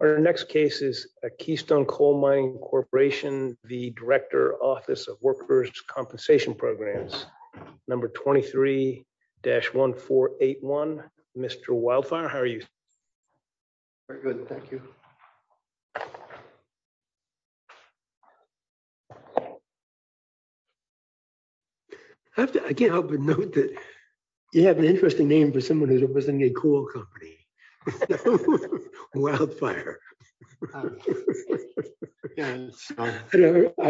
Our next case is a Keystone Coal Mining Corporation v. Dir Office of Workers Compensation Programs, number 23-1481. Mr. Wildfire, how are you? Very good. Thank you. I can't help but note that you have an interesting name for someone who's representing a coal company. Wildfire. I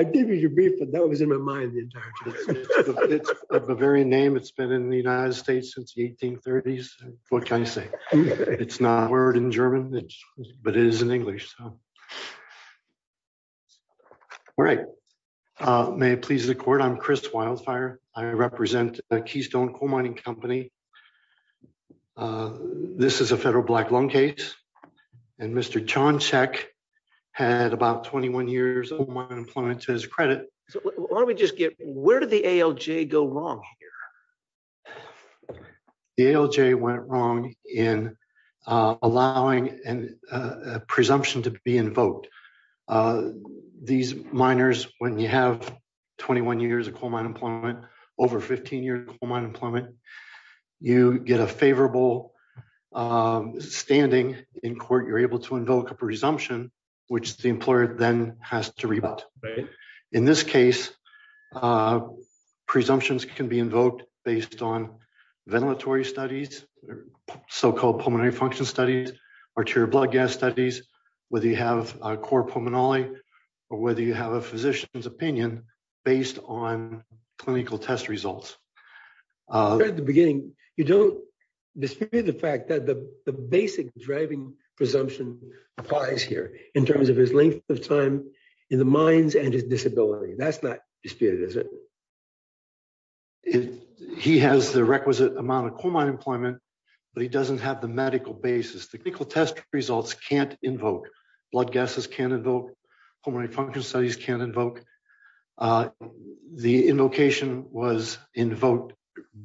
gave you your brief, but that was in my mind the entire time. It's a Bavarian name. It's been in the United States since the 1830s. What can I say? It's not a word in German, but it is in English. All right. May it please the court, I'm Chris Wildfire. I represent the Keystone Coal Mining Company. This is a federal black loan case, and Mr. Johncheck had about 21 years of coal mine employment to his credit. Why don't we just get, where did the ALJ go wrong here? The ALJ went wrong in allowing a presumption to be invoked. These miners, when you have 21 years of coal mine employment, over 15 years of coal mine employment, you get a favorable standing in court. You're able to invoke a presumption, which the employer then has to rebut. In this case, presumptions can be invoked based on ventilatory studies, so-called pulmonary function studies, arterial blood gas studies, whether you have a core pulmonary, or whether you have a physician's opinion based on clinical test results. At the beginning, you don't dispute the fact that the basic driving presumption applies here in terms of his length of time in the mines and his disability. That's not disputed, is it? He has the requisite amount of coal mine employment, but he doesn't have the medical basis. The clinical test results can't invoke. Blood gases can't invoke. Pulmonary function studies can't invoke. The invocation was invoked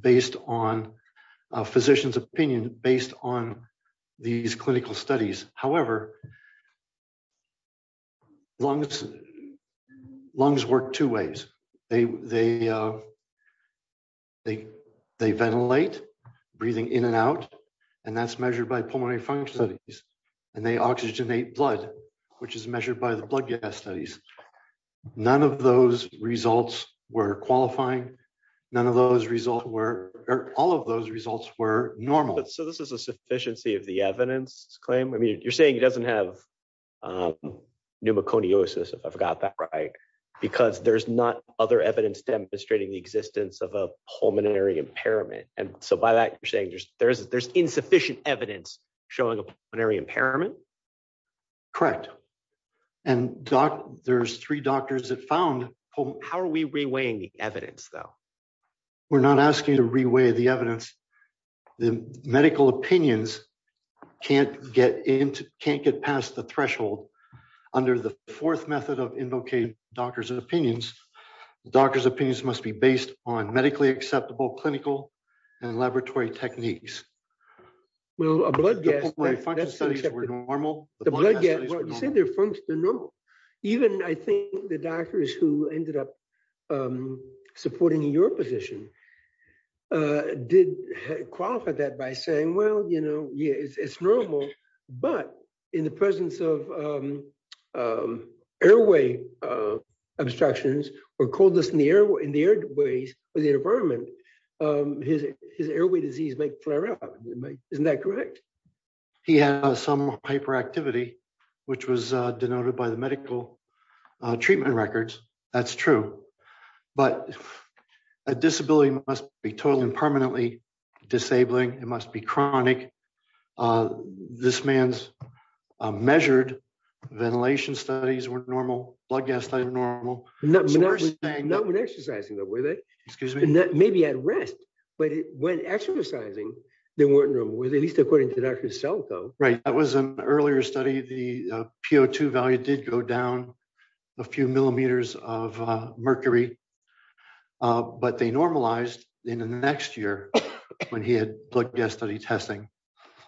based on a physician's opinion based on these clinical studies. However, lungs work two ways. They ventilate, breathing in and out, and that's measured by pulmonary function studies, and they oxygenate blood, which is measured by the blood gas studies. None of those results were qualifying. None of those results were, or all of those results were normal. So this is a sufficiency of the evidence claim? I mean, you're saying he doesn't have pneumoconiosis, if I've got that right, because there's not other evidence demonstrating the existence of a pulmonary impairment. And so by that, you're saying there's insufficient evidence showing a pulmonary impairment? Correct. And there's three doctors that found pulmonary impairment. How are we reweighing the evidence, though? We're not asking you to reweigh the evidence. The medical opinions can't get past the threshold. Under the fourth method of invocating doctors' opinions, doctors' opinions must be based on medically acceptable clinical and laboratory techniques. The pulmonary function studies were normal? The blood gas studies were normal. You said the pulmonary function studies were normal. Even I think the doctors who ended up supporting your position did qualify that by saying, well, you know, it's normal. But in the presence of airway obstructions or coldness in the airways of the environment, his airway disease may flare up. Isn't that correct? He has some hyperactivity, which was denoted by the medical treatment records. That's true. But a disability must be totally and permanently disabling. It must be chronic. This man's measured ventilation studies were normal. Blood gas studies were normal. Not when exercising, though, were they? Excuse me? Maybe at rest, but when exercising, they weren't normal, at least according to the doctor himself, though. Right. That was an earlier study. The PO2 value did go down a few millimeters of mercury. But they normalized in the next year when he had blood gas study testing.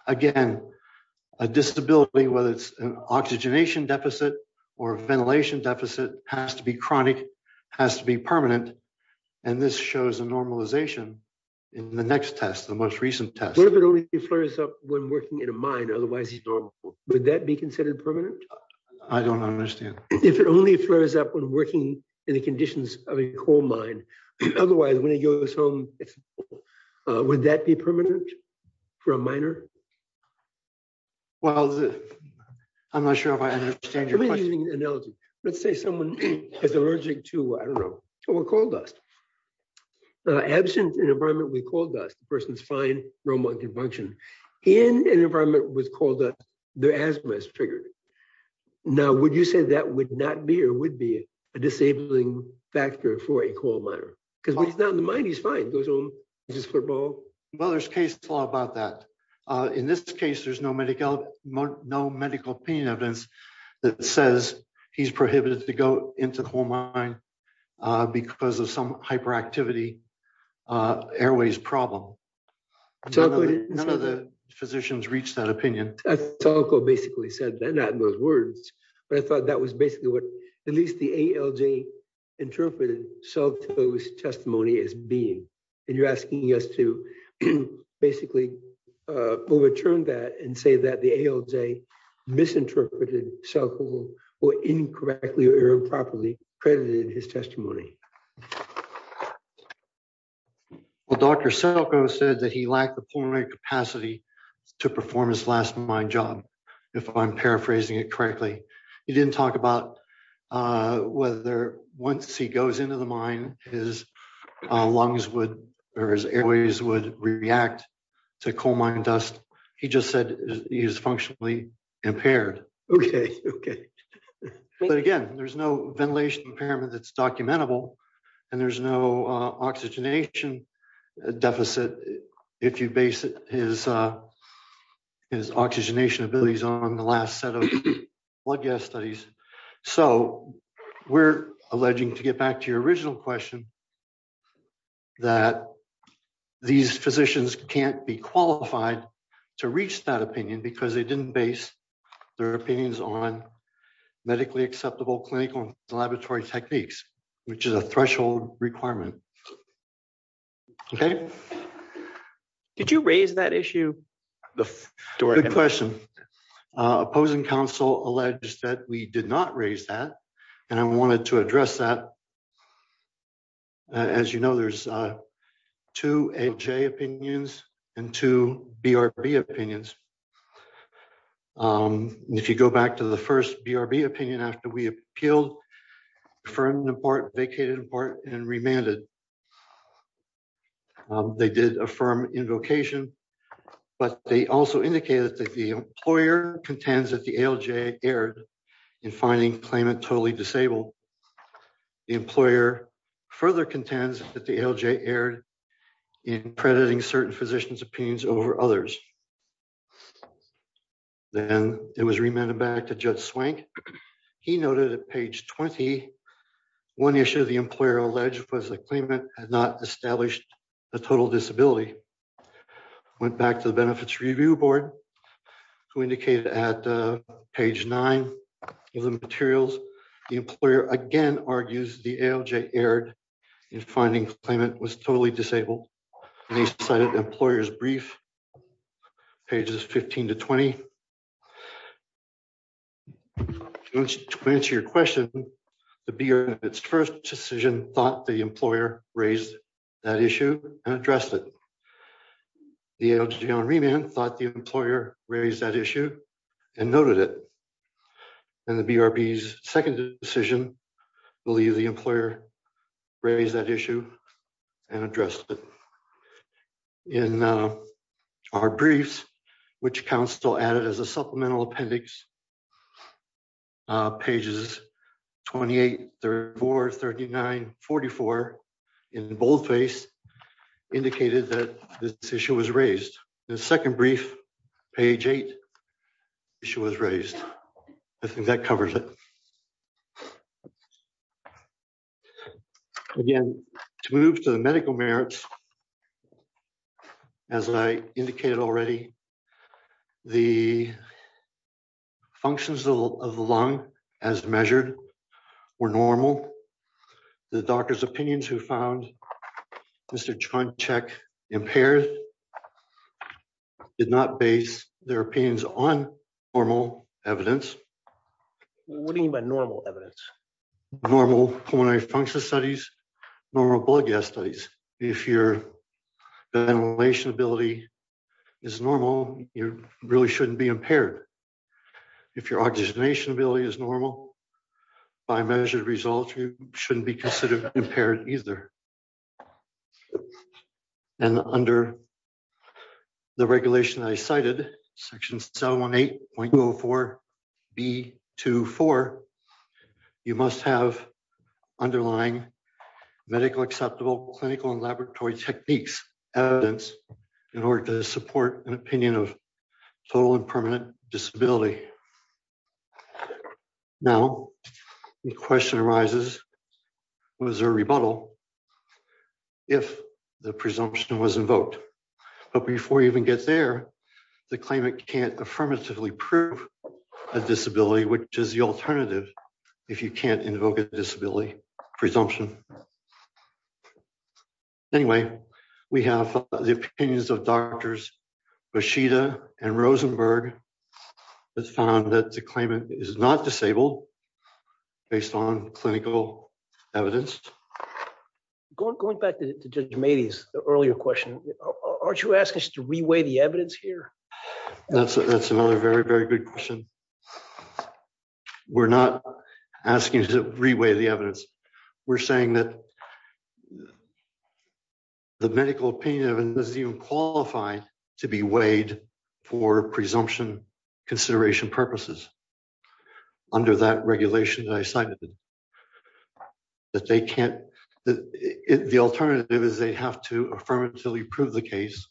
Again, a disability, whether it's an oxygenation deficit or ventilation deficit, has to be chronic, has to be permanent. And this shows a normalization in the next test, the most recent test. What if it only flares up when working in a mine, otherwise he's normal? Would that be considered permanent? I don't understand. If it only flares up when working in the conditions of a coal mine, otherwise when he goes home, would that be permanent for a miner? Well, I'm not sure if I understand your question. Let me use an analogy. Let's say someone is allergic to, I don't know, coal dust. Absent an environment with coal dust, the person is fine, normal and can function. In an environment with coal dust, their asthma is triggered. Now, would you say that would not be or would be a disabling factor for a coal miner? Because when he's not in the mine, he's fine, goes home, plays football. Well, there's case law about that. In this case, there's no medical opinion evidence that says he's prohibited to go into the coal mine because of some hyperactivity airways problem. None of the physicians reached that opinion. So basically said that not in those words, but I thought that was basically what at least the ALJ interpreted. So it was testimony as being and you're asking us to basically overturn that and say that the ALJ misinterpreted. So we're incorrectly or improperly credited his testimony. Well, Dr. Selko said that he lacked the capacity to perform his last mine job, if I'm paraphrasing it correctly. He didn't talk about whether once he goes into the mine, his lungs would or his airways would react to coal mine dust. He just said he is functionally impaired. Okay. Okay. But again, there's no ventilation impairment that's documentable. And there's no oxygenation deficit. If you base his oxygenation abilities on the last set of blood gas studies. So we're alleging to get back to your original question that these physicians can't be qualified to reach that opinion because they didn't base their opinions on medically acceptable clinical laboratory techniques, which is a threshold requirement. Okay. Did you raise that issue. Good question. Opposing Council alleged that we did not raise that. And I wanted to address that. As you know, there's two AJ opinions and two BRB opinions. If you go back to the first BRB opinion after we appealed for an important vacated part and remanded. They did affirm invocation. But they also indicated that the employer contends that the LJ aired in finding claimant totally disabled. The employer further contends that the LJ aired in crediting certain physicians opinions over others. Then it was remanded back to judge swank. He noted at page 21 issue the employer alleged was a claimant had not established a total disability. Went back to the benefits review board, who indicated at page nine of the materials, the employer again argues the LJ aired in finding payment was totally disabled. They cited employers brief pages 15 to 20. To answer your question. The beer, its first decision thought the employer raised that issue and addressed it. The LJ on remand thought the employer, raise that issue and noted it. And the BRB is second decision. Believe the employer, raise that issue and address it in our briefs, which Council added as a supplemental appendix pages, 2834 3944 in boldface indicated that this issue was raised the second brief page eight. I think that covers it. Again, to move to the medical merits. As I indicated already. The functions of the lung as measured were normal. The doctor's opinions who found Mr. John check impaired did not base their opinions on normal evidence. What do you mean by normal evidence. Normal hormonal function studies, normal blood gas studies. If your ventilation ability is normal, you really shouldn't be impaired. If your organization ability is normal. By measured results you shouldn't be considered impaired, either. And under the regulation I cited section 718.4 B to four. You must have underlying medical acceptable clinical and laboratory techniques evidence in order to support an opinion of total and permanent disability. Okay. Now, the question arises, was a rebuttal. If the presumption was invoked. But before you even get there. The claimant can't affirmatively prove a disability which is the alternative. If you can't invoke a disability presumption. Anyway, we have the opinions of doctors, but she to and Rosenberg has found that the claimant is not disabled. Based on clinical evidence. Going back to just made his earlier question. Aren't you asking us to reweigh the evidence here. That's, that's another very, very good question. We're not asking to reweigh the evidence. We're saying that the medical pain of and doesn't even qualify to be weighed for presumption consideration purposes. Under that regulation that I cited that they can't. The alternative is they have to affirmatively prove the case.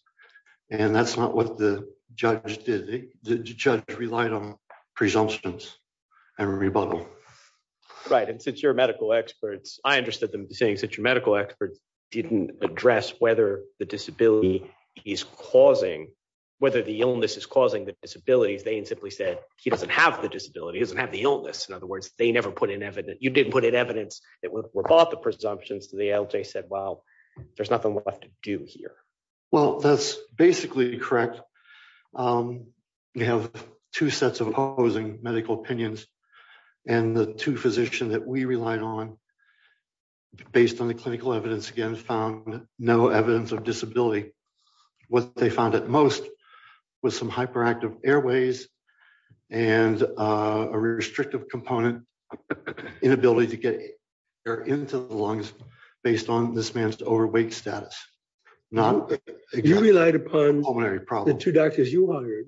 And that's not what the judge did the judge relied on presumptions and rebuttal. Right and since you're a medical experts, I understood them saying such a medical experts didn't address whether the disability is causing whether the illness is causing the disabilities they simply said, he doesn't have the disability doesn't have the illness in other words, they never put in evidence you didn't put in evidence that were bought the presumptions to the LJ said, well, there's nothing left to do here. Well, that's basically correct. We have two sets of opposing medical opinions, and the two physician that we relied on. Based on the clinical evidence again found no evidence of disability. What they found at most was some hyperactive airways, and a restrictive component inability to get into the lungs, based on this man's overweight status. Now, you relied upon the two doctors you hired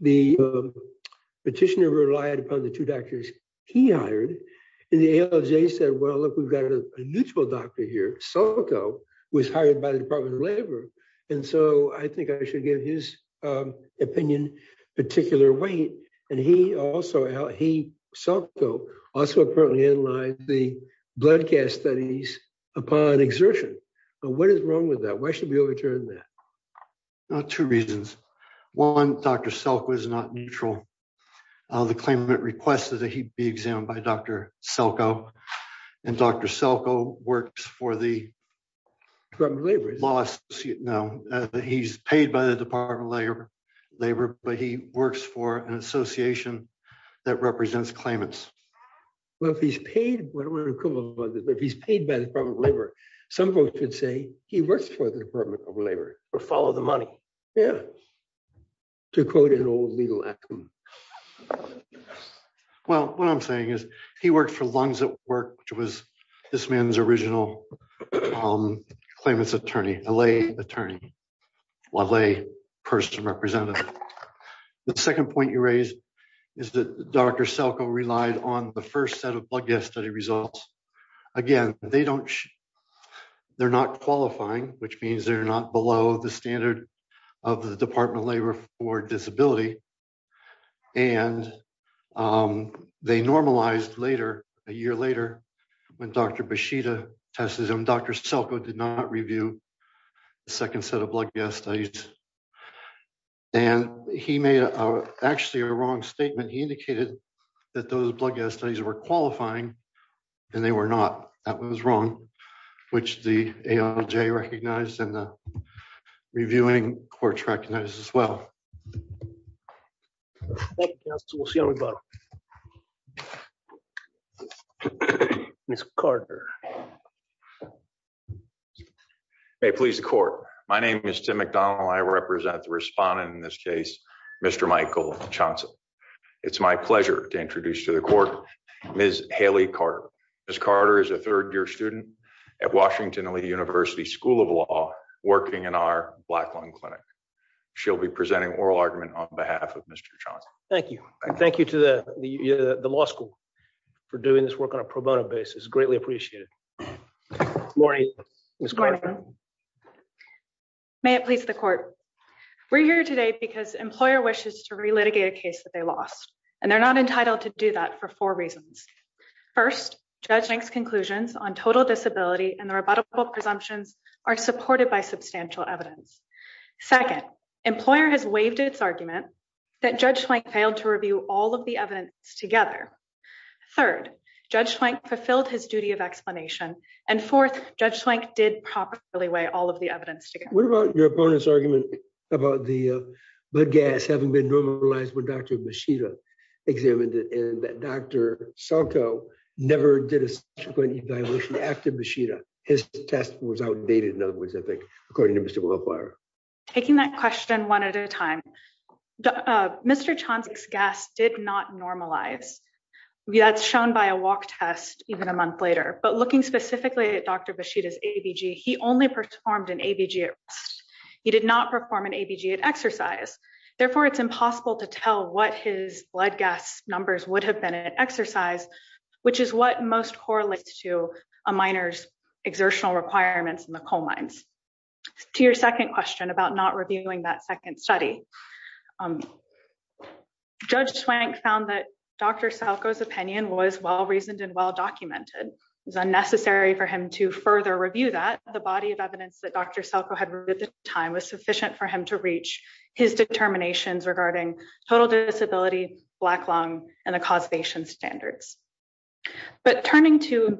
the petitioner relied upon the two doctors, he hired in the LJ said well look we've got a neutral doctor here, so it was hired by the Department of Labor. And so I think I should give his opinion, particular weight, and he also he also currently in line, the blood gas studies upon exertion. But what is wrong with that why should we overturn that. Two reasons. One, Dr self was not neutral. The claimant requested that he be examined by Dr. Selkow, and Dr. Selkow works for the labor laws, you know, he's paid by the Department of Labor, labor, but he works for an association that represents claimants. Well, if he's paid. He's paid by the Department of Labor. Some folks would say he works for the Department of Labor, or follow the money. Yeah. To quote an old legal. Well, what I'm saying is, he worked for lungs at work, which was this man's original claimants attorney la attorney. Lovely person represented. The second point you raised is that Dr Selkow relied on the first set of blood gas study results. Again, they don't. They're not qualifying, which means they're not below the standard of the Department of Labor for disability. And they normalized later, a year later, when Dr Bushida testism Dr Selkow did not review the second set of blood gas studies. And he made actually a wrong statement he indicated that those blood gas studies were qualifying. And they were not that was wrong, which the ALJ recognized and reviewing court recognized as well. So we'll see how we go. Miss Carter. Please the court. My name is Tim McDonald I represent the respondent in this case, Mr. Michael Johnson. It's my pleasure to introduce to the court. Miss Haley Carter is Carter is a third year student at Washington University School of Law, working in our black lung clinic. She'll be presenting oral argument on behalf of Mr. Johnson. Thank you. Thank you to the law school for doing this work on a pro bono basis greatly appreciated. Morning. May it please the court. We're here today because employer wishes to relitigate a case that they lost, and they're not entitled to do that for four reasons. First, judging conclusions on total disability and the rebuttable presumptions are supported by substantial evidence. Second, employer has waived its argument that judge like failed to review all of the evidence together. Third, judge like fulfilled his duty of explanation, and fourth, judge like did properly way all of the evidence. What about your opponents argument about the gas having been normalized with Dr. examined it and that Dr. Santo never did a subsequent evaluation after machine. His test was outdated in other words I think, according to Mr. Taking that question one at a time. Mr. Johnson's gas did not normalize. That's shown by a walk test, even a month later, but looking specifically at Dr. Vashita's ABG he only performed an ABG. He did not perform an ABG at exercise. Therefore, it's impossible to tell what his blood gas numbers would have been an exercise, which is what most correlates to a miners exertional requirements in the coal mines to your second question about not reviewing that second study. Judge Swank found that Dr. Salgo his opinion was well reasoned and well documented is unnecessary for him to further review that the body of evidence that Dr. Salgo had written time was sufficient for him to reach his determinations regarding total disability, black lung, and the causation standards. But turning to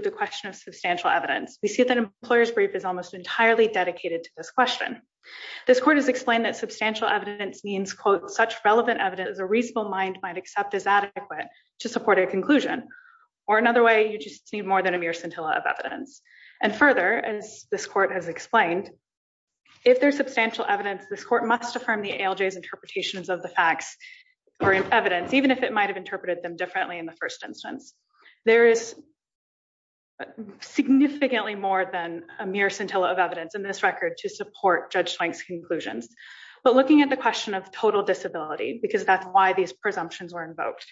the question of substantial evidence, we see that employers brief is almost entirely dedicated to this question. This court has explained that substantial evidence means quote such relevant evidence is a reasonable mind might accept is adequate to support a conclusion, or another way you just need more than a mere scintilla of evidence. And further, as this court has explained. If there's substantial evidence this court must affirm the LJs interpretations of the facts or evidence even if it might have interpreted them differently in the first instance, there is significantly more than a mere scintilla of evidence in this record to support Judge Swank's conclusions, but looking at the question of total disability because that's why these presumptions were invoked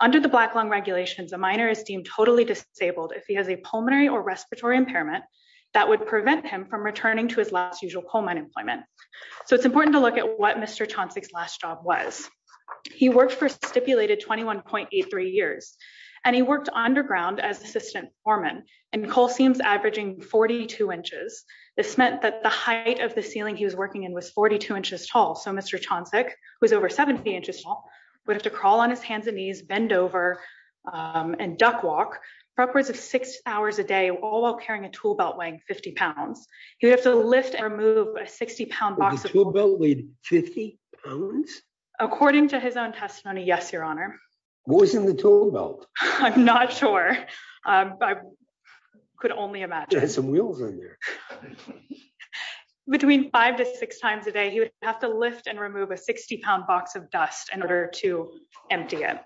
under the black lung regulations a minor is deemed totally disabled if he has a pulmonary or respiratory impairment that would prevent him from returning to his last usual coal mine employment. So it's important to look at what Mr. Johnson's last job was. He worked for stipulated 21.83 years, and he worked underground as assistant foreman and Cole seems averaging 42 inches. This meant that the height of the ceiling he was working in was 42 inches tall so Mr. Johnson was over 70 inches would have to crawl on his hands and knees bend over and duck walk backwards of six hours a day, all while carrying a tool belt weighing 50 pounds, you have to lift and remove a 60 pound box with 50 pounds. According to his own testimony yes your honor was in the tool belt. I'm not sure I could only imagine some wheels on there. Between five to six times a day he would have to lift and remove a 60 pound box of dust in order to empty it.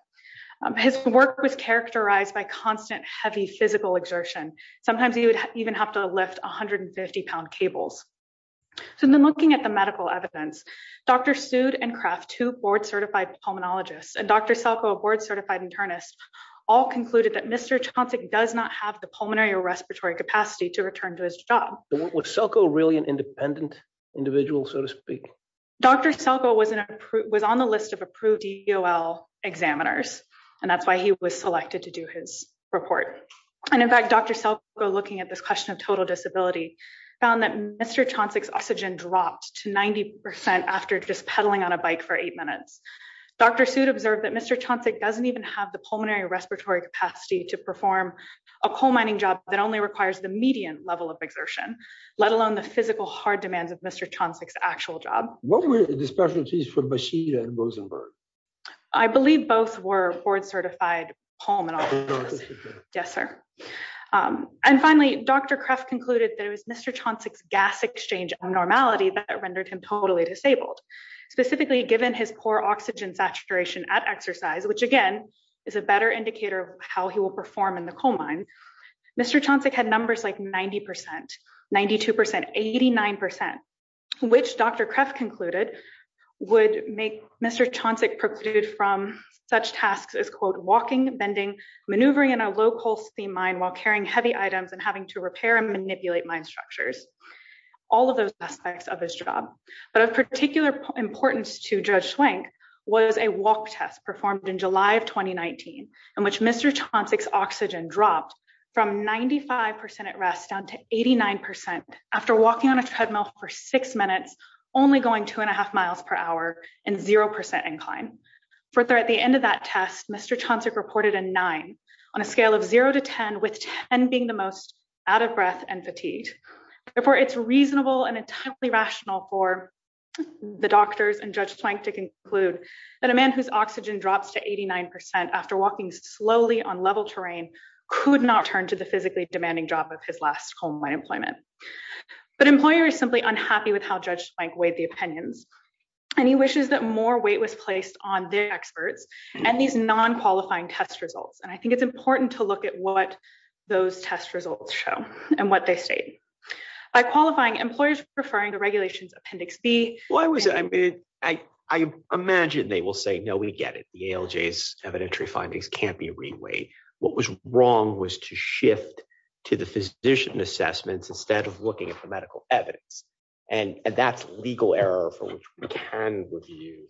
His work was characterized by constant heavy physical exertion. Sometimes he would even have to lift 150 pound cables. So then looking at the medical evidence, Dr. Sued and craft to board certified pulmonologist and Dr. Selkow board certified internist all concluded that Mr. Johnson does not have the pulmonary or respiratory capacity to return to his job. So what's so cool really an independent individual so to speak, Dr. Selkow was an approved was on the list of approved DL examiners, and that's why he was selected to do his report. And in fact Dr. Selkow looking at this question of total disability found that Mr Johnson oxygen dropped to 90% after just pedaling on a bike for eight minutes. Dr. Sued observed that Mr Johnson doesn't even have the pulmonary respiratory capacity to perform a coal mining job that only requires the median level of exertion, let alone the physical hard demands of Mr Johnson's actual job, what were the specialties for machine and Rosenberg. I believe both were board certified home and. Yes, sir. And finally, Dr craft concluded there was Mr Johnson's gas exchange normality that rendered him totally disabled, specifically given his poor oxygen saturation at exercise which again is a better indicator of how he will perform in the coal mine. Mr Johnson had numbers like 90% 92% 89%, which Dr craft concluded would make Mr Johnson proceeded from such tasks as quote walking bending maneuvering in a local steam mine while carrying heavy items and having to repair and manipulate mine structures. All of those aspects of his job, but of particular importance to judge swing was a walk test performed in July of 2019, and which Mr Johnson's oxygen dropped from 95% at rest down to 89% after walking on a treadmill for six minutes, only going two and a half miles per hour, and 0% incline for at the end of that test Mr Johnson reported a nine on a scale of zero to 10 with 10 being the most out of breath and fatigue before it's reasonable and entirely rational for the doctors and just trying to conclude that a man who's oxygen drops to 89% after walking slowly on level terrain could not turn to the physically demanding job of his last home my employment. But employer is simply unhappy with how judged by the opinions, and he wishes that more weight was placed on their experts, and these non qualifying test results and I think it's important to look at what those test results show, and what they say by qualifying employers preferring the regulations Appendix B, I was, I mean, I, I imagine they will say no we get it the LJs evidentiary findings can't be reweight. What was wrong was to shift to the physician assessments instead of looking at the medical evidence, and that's legal error with you.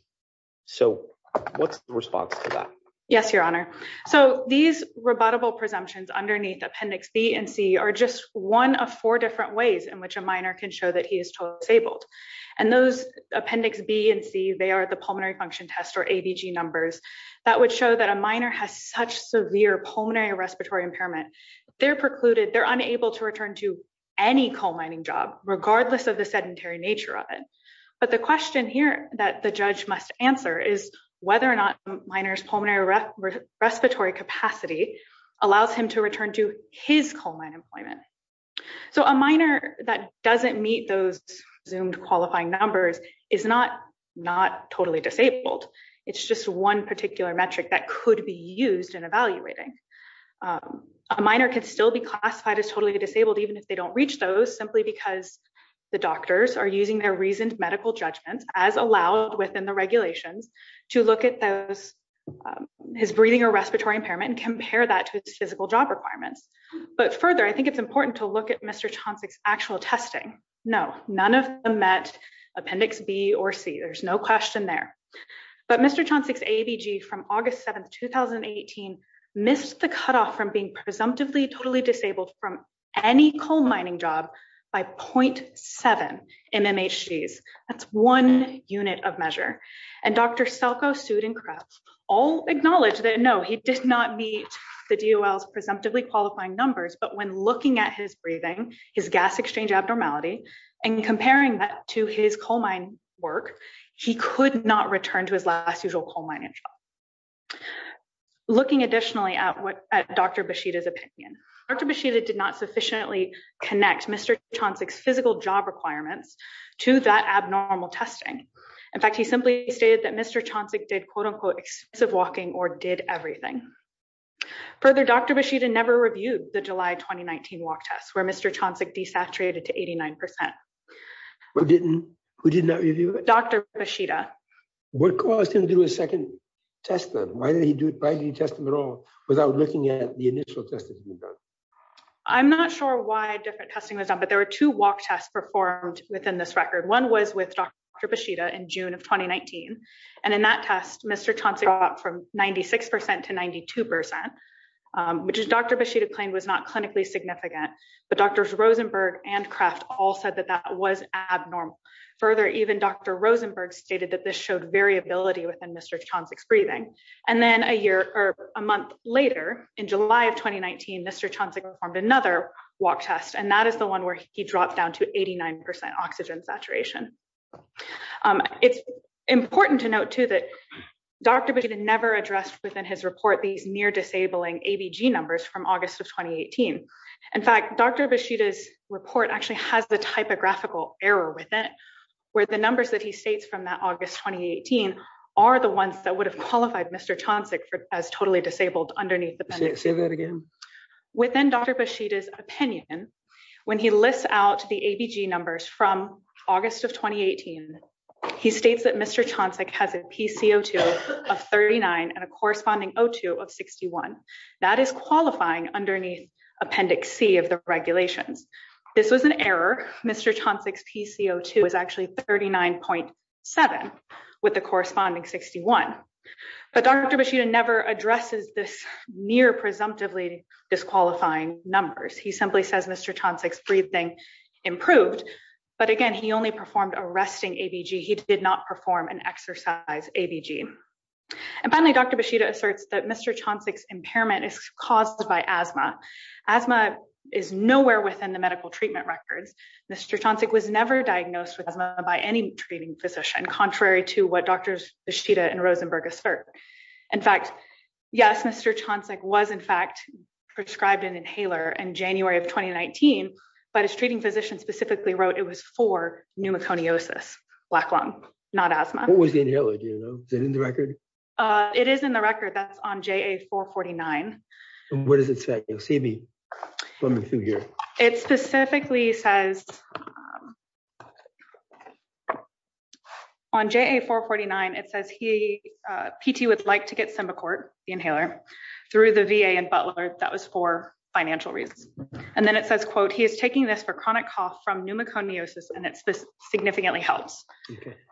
So, what's the response to that. Yes, Your Honor. So these rebuttable presumptions underneath Appendix B and C are just one of four different ways in which a minor can show that he is disabled, and those Appendix B and C they are the pulmonary function test or So the question here that the judge must answer is whether or not minors pulmonary respiratory capacity, allows him to return to his colon employment. So a minor that doesn't meet those zoomed qualifying numbers is not not totally disabled. It's just one particular metric that could be used in evaluating a minor can still be classified as totally disabled even if they don't reach those simply because the doctors are using their reasoned medical judgments, as allowed within the regulations to look at those his breathing or respiratory impairment compare that to a physical job requirements, but further I think it's important to look at Mr. Johnson's actual testing. No, none of them met Appendix B or C there's no question there. But Mr. Johnson's ABG from August 7 2018 missed the cutoff from being presumptively totally disabled from any coal mining job by point seven MMHGs, that's one unit of measure, and Dr. Looking additionally at what Dr. Beshida's opinion, Dr. Beshida did not sufficiently connect Mr. Johnson's physical job requirements to that abnormal testing. In fact, he simply stated that Mr. Johnson did quote unquote expensive walking or did everything. Further, Dr. Beshida never reviewed the July 2019 walk test where Mr. Johnson desaturated to 89%. Who didn't, who did not review it? Dr. Beshida. What caused him to do a second test? Why did he do it? Why do you test them at all without looking at the initial testing? I'm not sure why different testing was done but there were two walk tests performed within this record one was with Dr. Beshida in June of 2019. And in that test Mr. Johnson got from 96% to 92%. Which is Dr. Beshida claimed was not clinically significant. But Drs. Rosenberg and Kraft all said that that was abnormal. Further, even Dr. Rosenberg stated that this showed variability within Mr. Johnson's breathing. And then a year or a month later in July of 2019 Mr. Johnson performed another walk test and that is the one where he dropped down to 89% oxygen saturation. It's important to note too that Dr. Beshida never addressed within his report these near disabling ABG numbers from August of 2018. In fact, Dr. Beshida's report actually has the typographical error with it, where the numbers that he states from that August 2018 are the ones that would have qualified Mr. Johnson as totally disabled underneath. Say that again. Within Dr. Beshida's opinion, when he lists out the ABG numbers from August of 2018, he states that Mr. Johnson has a PCO2 of 39 and a corresponding O2 of 61. That is qualifying underneath Appendix C of the regulations. This was an error. Mr. Johnson's PCO2 is actually 39.7 with the corresponding 61. But Dr. Beshida never addresses this near presumptively disqualifying numbers. He simply says Mr. Johnson's breathing improved. But again, he only performed a resting ABG. He did not perform an exercise ABG. And finally, Dr. Beshida asserts that Mr. Johnson's impairment is caused by asthma. Asthma is nowhere within the medical treatment records. Mr. Johnson was never diagnosed with asthma by any treating physician, contrary to what Drs. Beshida and Rosenberg assert. In fact, yes, Mr. Johnson was, in fact, prescribed an inhaler in January of 2019. But his treating physician specifically wrote it was for pneumoconiosis, black lung, not asthma. What was the inhaler? Is it in the record? It is in the record. That's on JA449. What does it say? It specifically says on JA449, it says PT would like to get Simbicort, the inhaler, through the VA and Butler. That was for financial reasons. And then it says, quote, he is taking this for chronic cough from pneumoconiosis, and it significantly helps.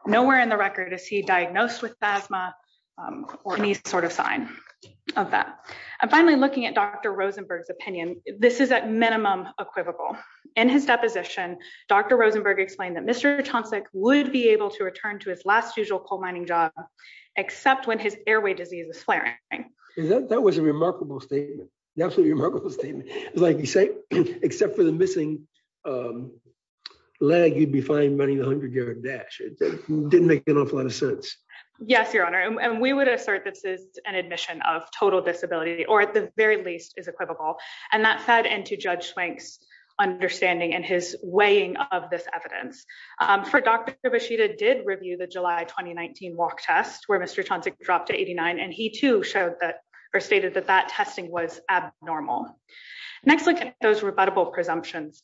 Nowhere in the record is he diagnosed with asthma or any sort of sign of that. And finally, looking at Dr. Rosenberg's opinion, this is at minimum equivocal. In his deposition, Dr. Rosenberg explained that Mr. Johnson would be able to return to his last usual coal mining job, except when his airway disease is flaring. That was a remarkable statement. Absolutely remarkable statement. Like you say, except for the missing leg, you'd be fine running the 100-yard dash. Didn't make an awful lot of sense. Yes, Your Honor. And we would assert this is an admission of total disability, or at the very least is equivocal. And that fed into Judge Swank's understanding and his weighing of this evidence. For Dr. Basheeda did review the July 2019 walk test where Mr. Johnson dropped to 89, and he, too, showed that or stated that that testing was abnormal. Next, look at those rebuttable presumptions.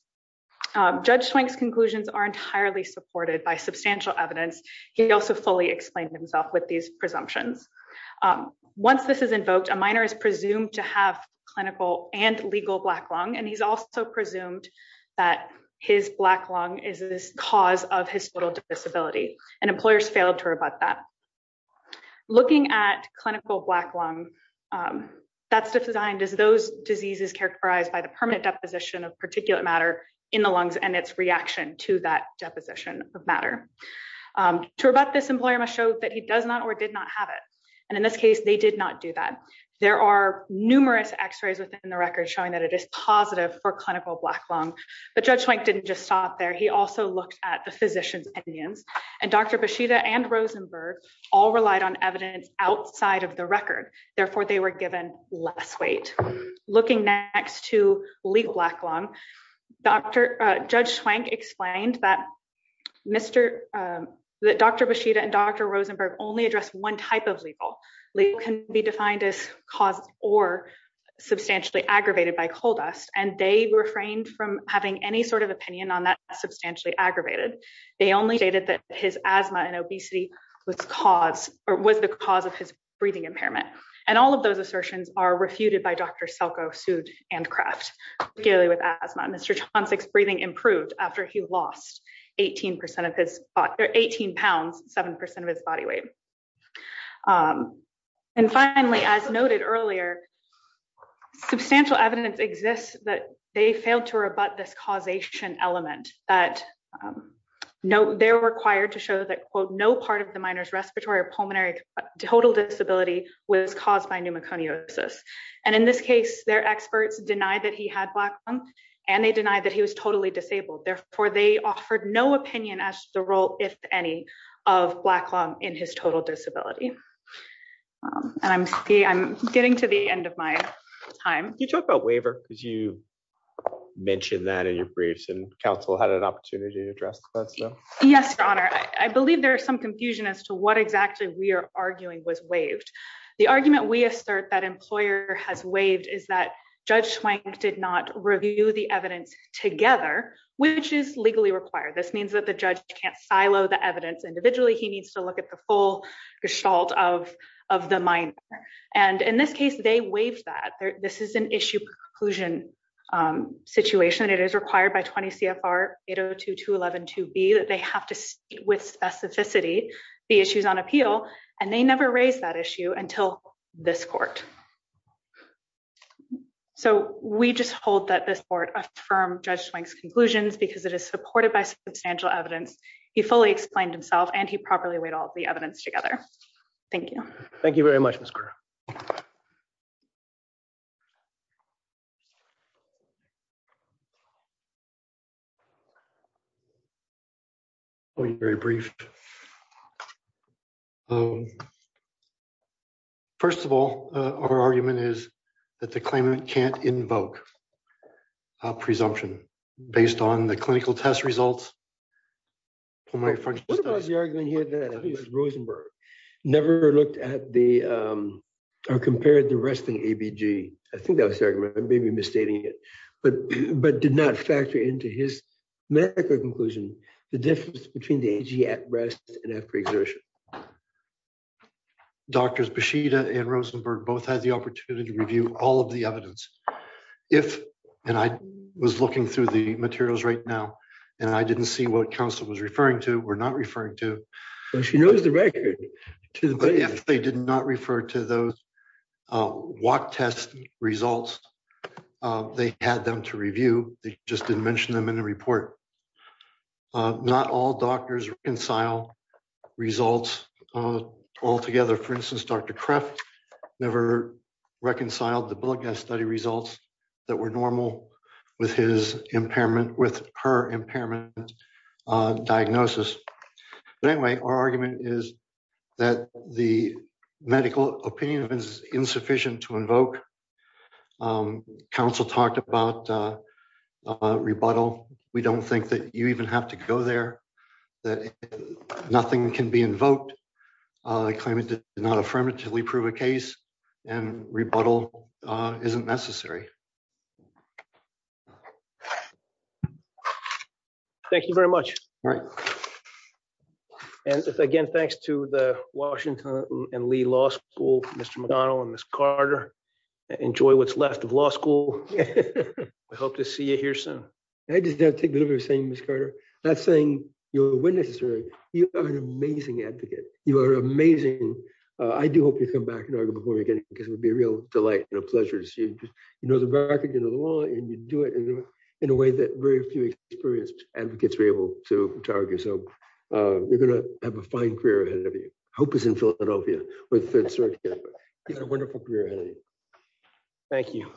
Judge Swank's conclusions are entirely supported by substantial evidence. He also fully explained himself with these presumptions. Once this is invoked, a minor is presumed to have clinical and legal black lung, and he's also presumed that his black lung is the cause of his total disability. And employers failed to rebut that. Looking at clinical black lung, that's defined as those diseases characterized by the permanent deposition of particulate matter in the lungs and its reaction to that deposition of matter. To rebut this, employer must show that he does not or did not have it. And in this case, they did not do that. There are numerous x-rays within the record showing that it is positive for clinical black lung. But Judge Swank didn't just stop there. He also looked at the physician's opinions. And Dr. Basheeda and Rosenberg all relied on evidence outside of the record. Therefore, they were given less weight. Looking next to legal black lung, Judge Swank explained that Dr. Basheeda and Dr. Rosenberg only address one type of legal. Legal can be defined as caused or substantially aggravated by coal dust. And they refrained from having any sort of opinion on that substantially aggravated. They only stated that his asthma and obesity was the cause of his breathing impairment. And all of those assertions are refuted by Dr. Selkow, Sood, and Kraft, particularly with asthma. Mr. Johnson's breathing improved after he lost 18 pounds, 7% of his body weight. And finally, as noted earlier, substantial evidence exists that they failed to rebut this causation element. They're required to show that, quote, no part of the minor's respiratory or pulmonary total disability was caused by pneumoconiosis. And in this case, their experts denied that he had black lung and they denied that he was totally disabled. Therefore, they offered no opinion as to the role, if any, of black lung in his total disability. And I'm getting to the end of my time. You talk about waiver because you mentioned that in your briefs and counsel had an opportunity to address. Yes, Your Honor. I believe there is some confusion as to what exactly we are arguing was waived. The argument we assert that employer has waived is that Judge Swank did not review the evidence together, which is legally required. This means that the judge can't silo the evidence individually. He needs to look at the full gestalt of the minor. And in this case, they waived that. This is an issue per conclusion situation. It is required by 20 CFR 802.211.2b that they have to see with specificity the issues on appeal. And they never raised that issue until this court. So we just hold that this court affirmed Judge Swank's conclusions because it is supported by substantial evidence. He fully explained himself and he properly weighed all the evidence together. Thank you. Thank you very much. Very brief. First of all, our argument is that the claimant can't invoke a presumption based on the clinical test results. What about the argument here that Rosenberg never looked at the or compared the resting ABG? I think that was the argument. I may be misstating it. But did not factor into his medical conclusion the difference between the AG at rest and after exertion. Doctors Beshida and Rosenberg both had the opportunity to review all of the evidence. If I was looking through the materials right now and I didn't see what counsel was referring to, we're not referring to. She knows the record. But if they did not refer to those walk test results, they had them to review. They just didn't mention them in the report. Not all doctors reconcile results altogether. For instance, Dr. Kraft never reconciled the blood gas study results that were normal with his impairment with her impairment diagnosis. But anyway, our argument is that the medical opinion is insufficient to invoke. Counsel talked about rebuttal. We don't think that you even have to go there, that nothing can be invoked. I claim it did not affirmatively prove a case and rebuttal isn't necessary. Thank you very much. And again, thanks to the Washington and Lee Law School, Mr. McDonnell and Miss Carter. Enjoy what's left of law school. I hope to see you here soon. I just have to take the liberty of saying, Miss Carter, not saying you're a witness. You are an amazing advocate. You are amazing. I do hope you come back and argue before we get in because it would be a real delight and a pleasure to see you. You know the record, you know the law, and you do it in a way that very few experienced advocates were able to argue. So you're going to have a fine career ahead of you. Hope is in Philadelphia. You've got a wonderful career ahead of you. Thank you.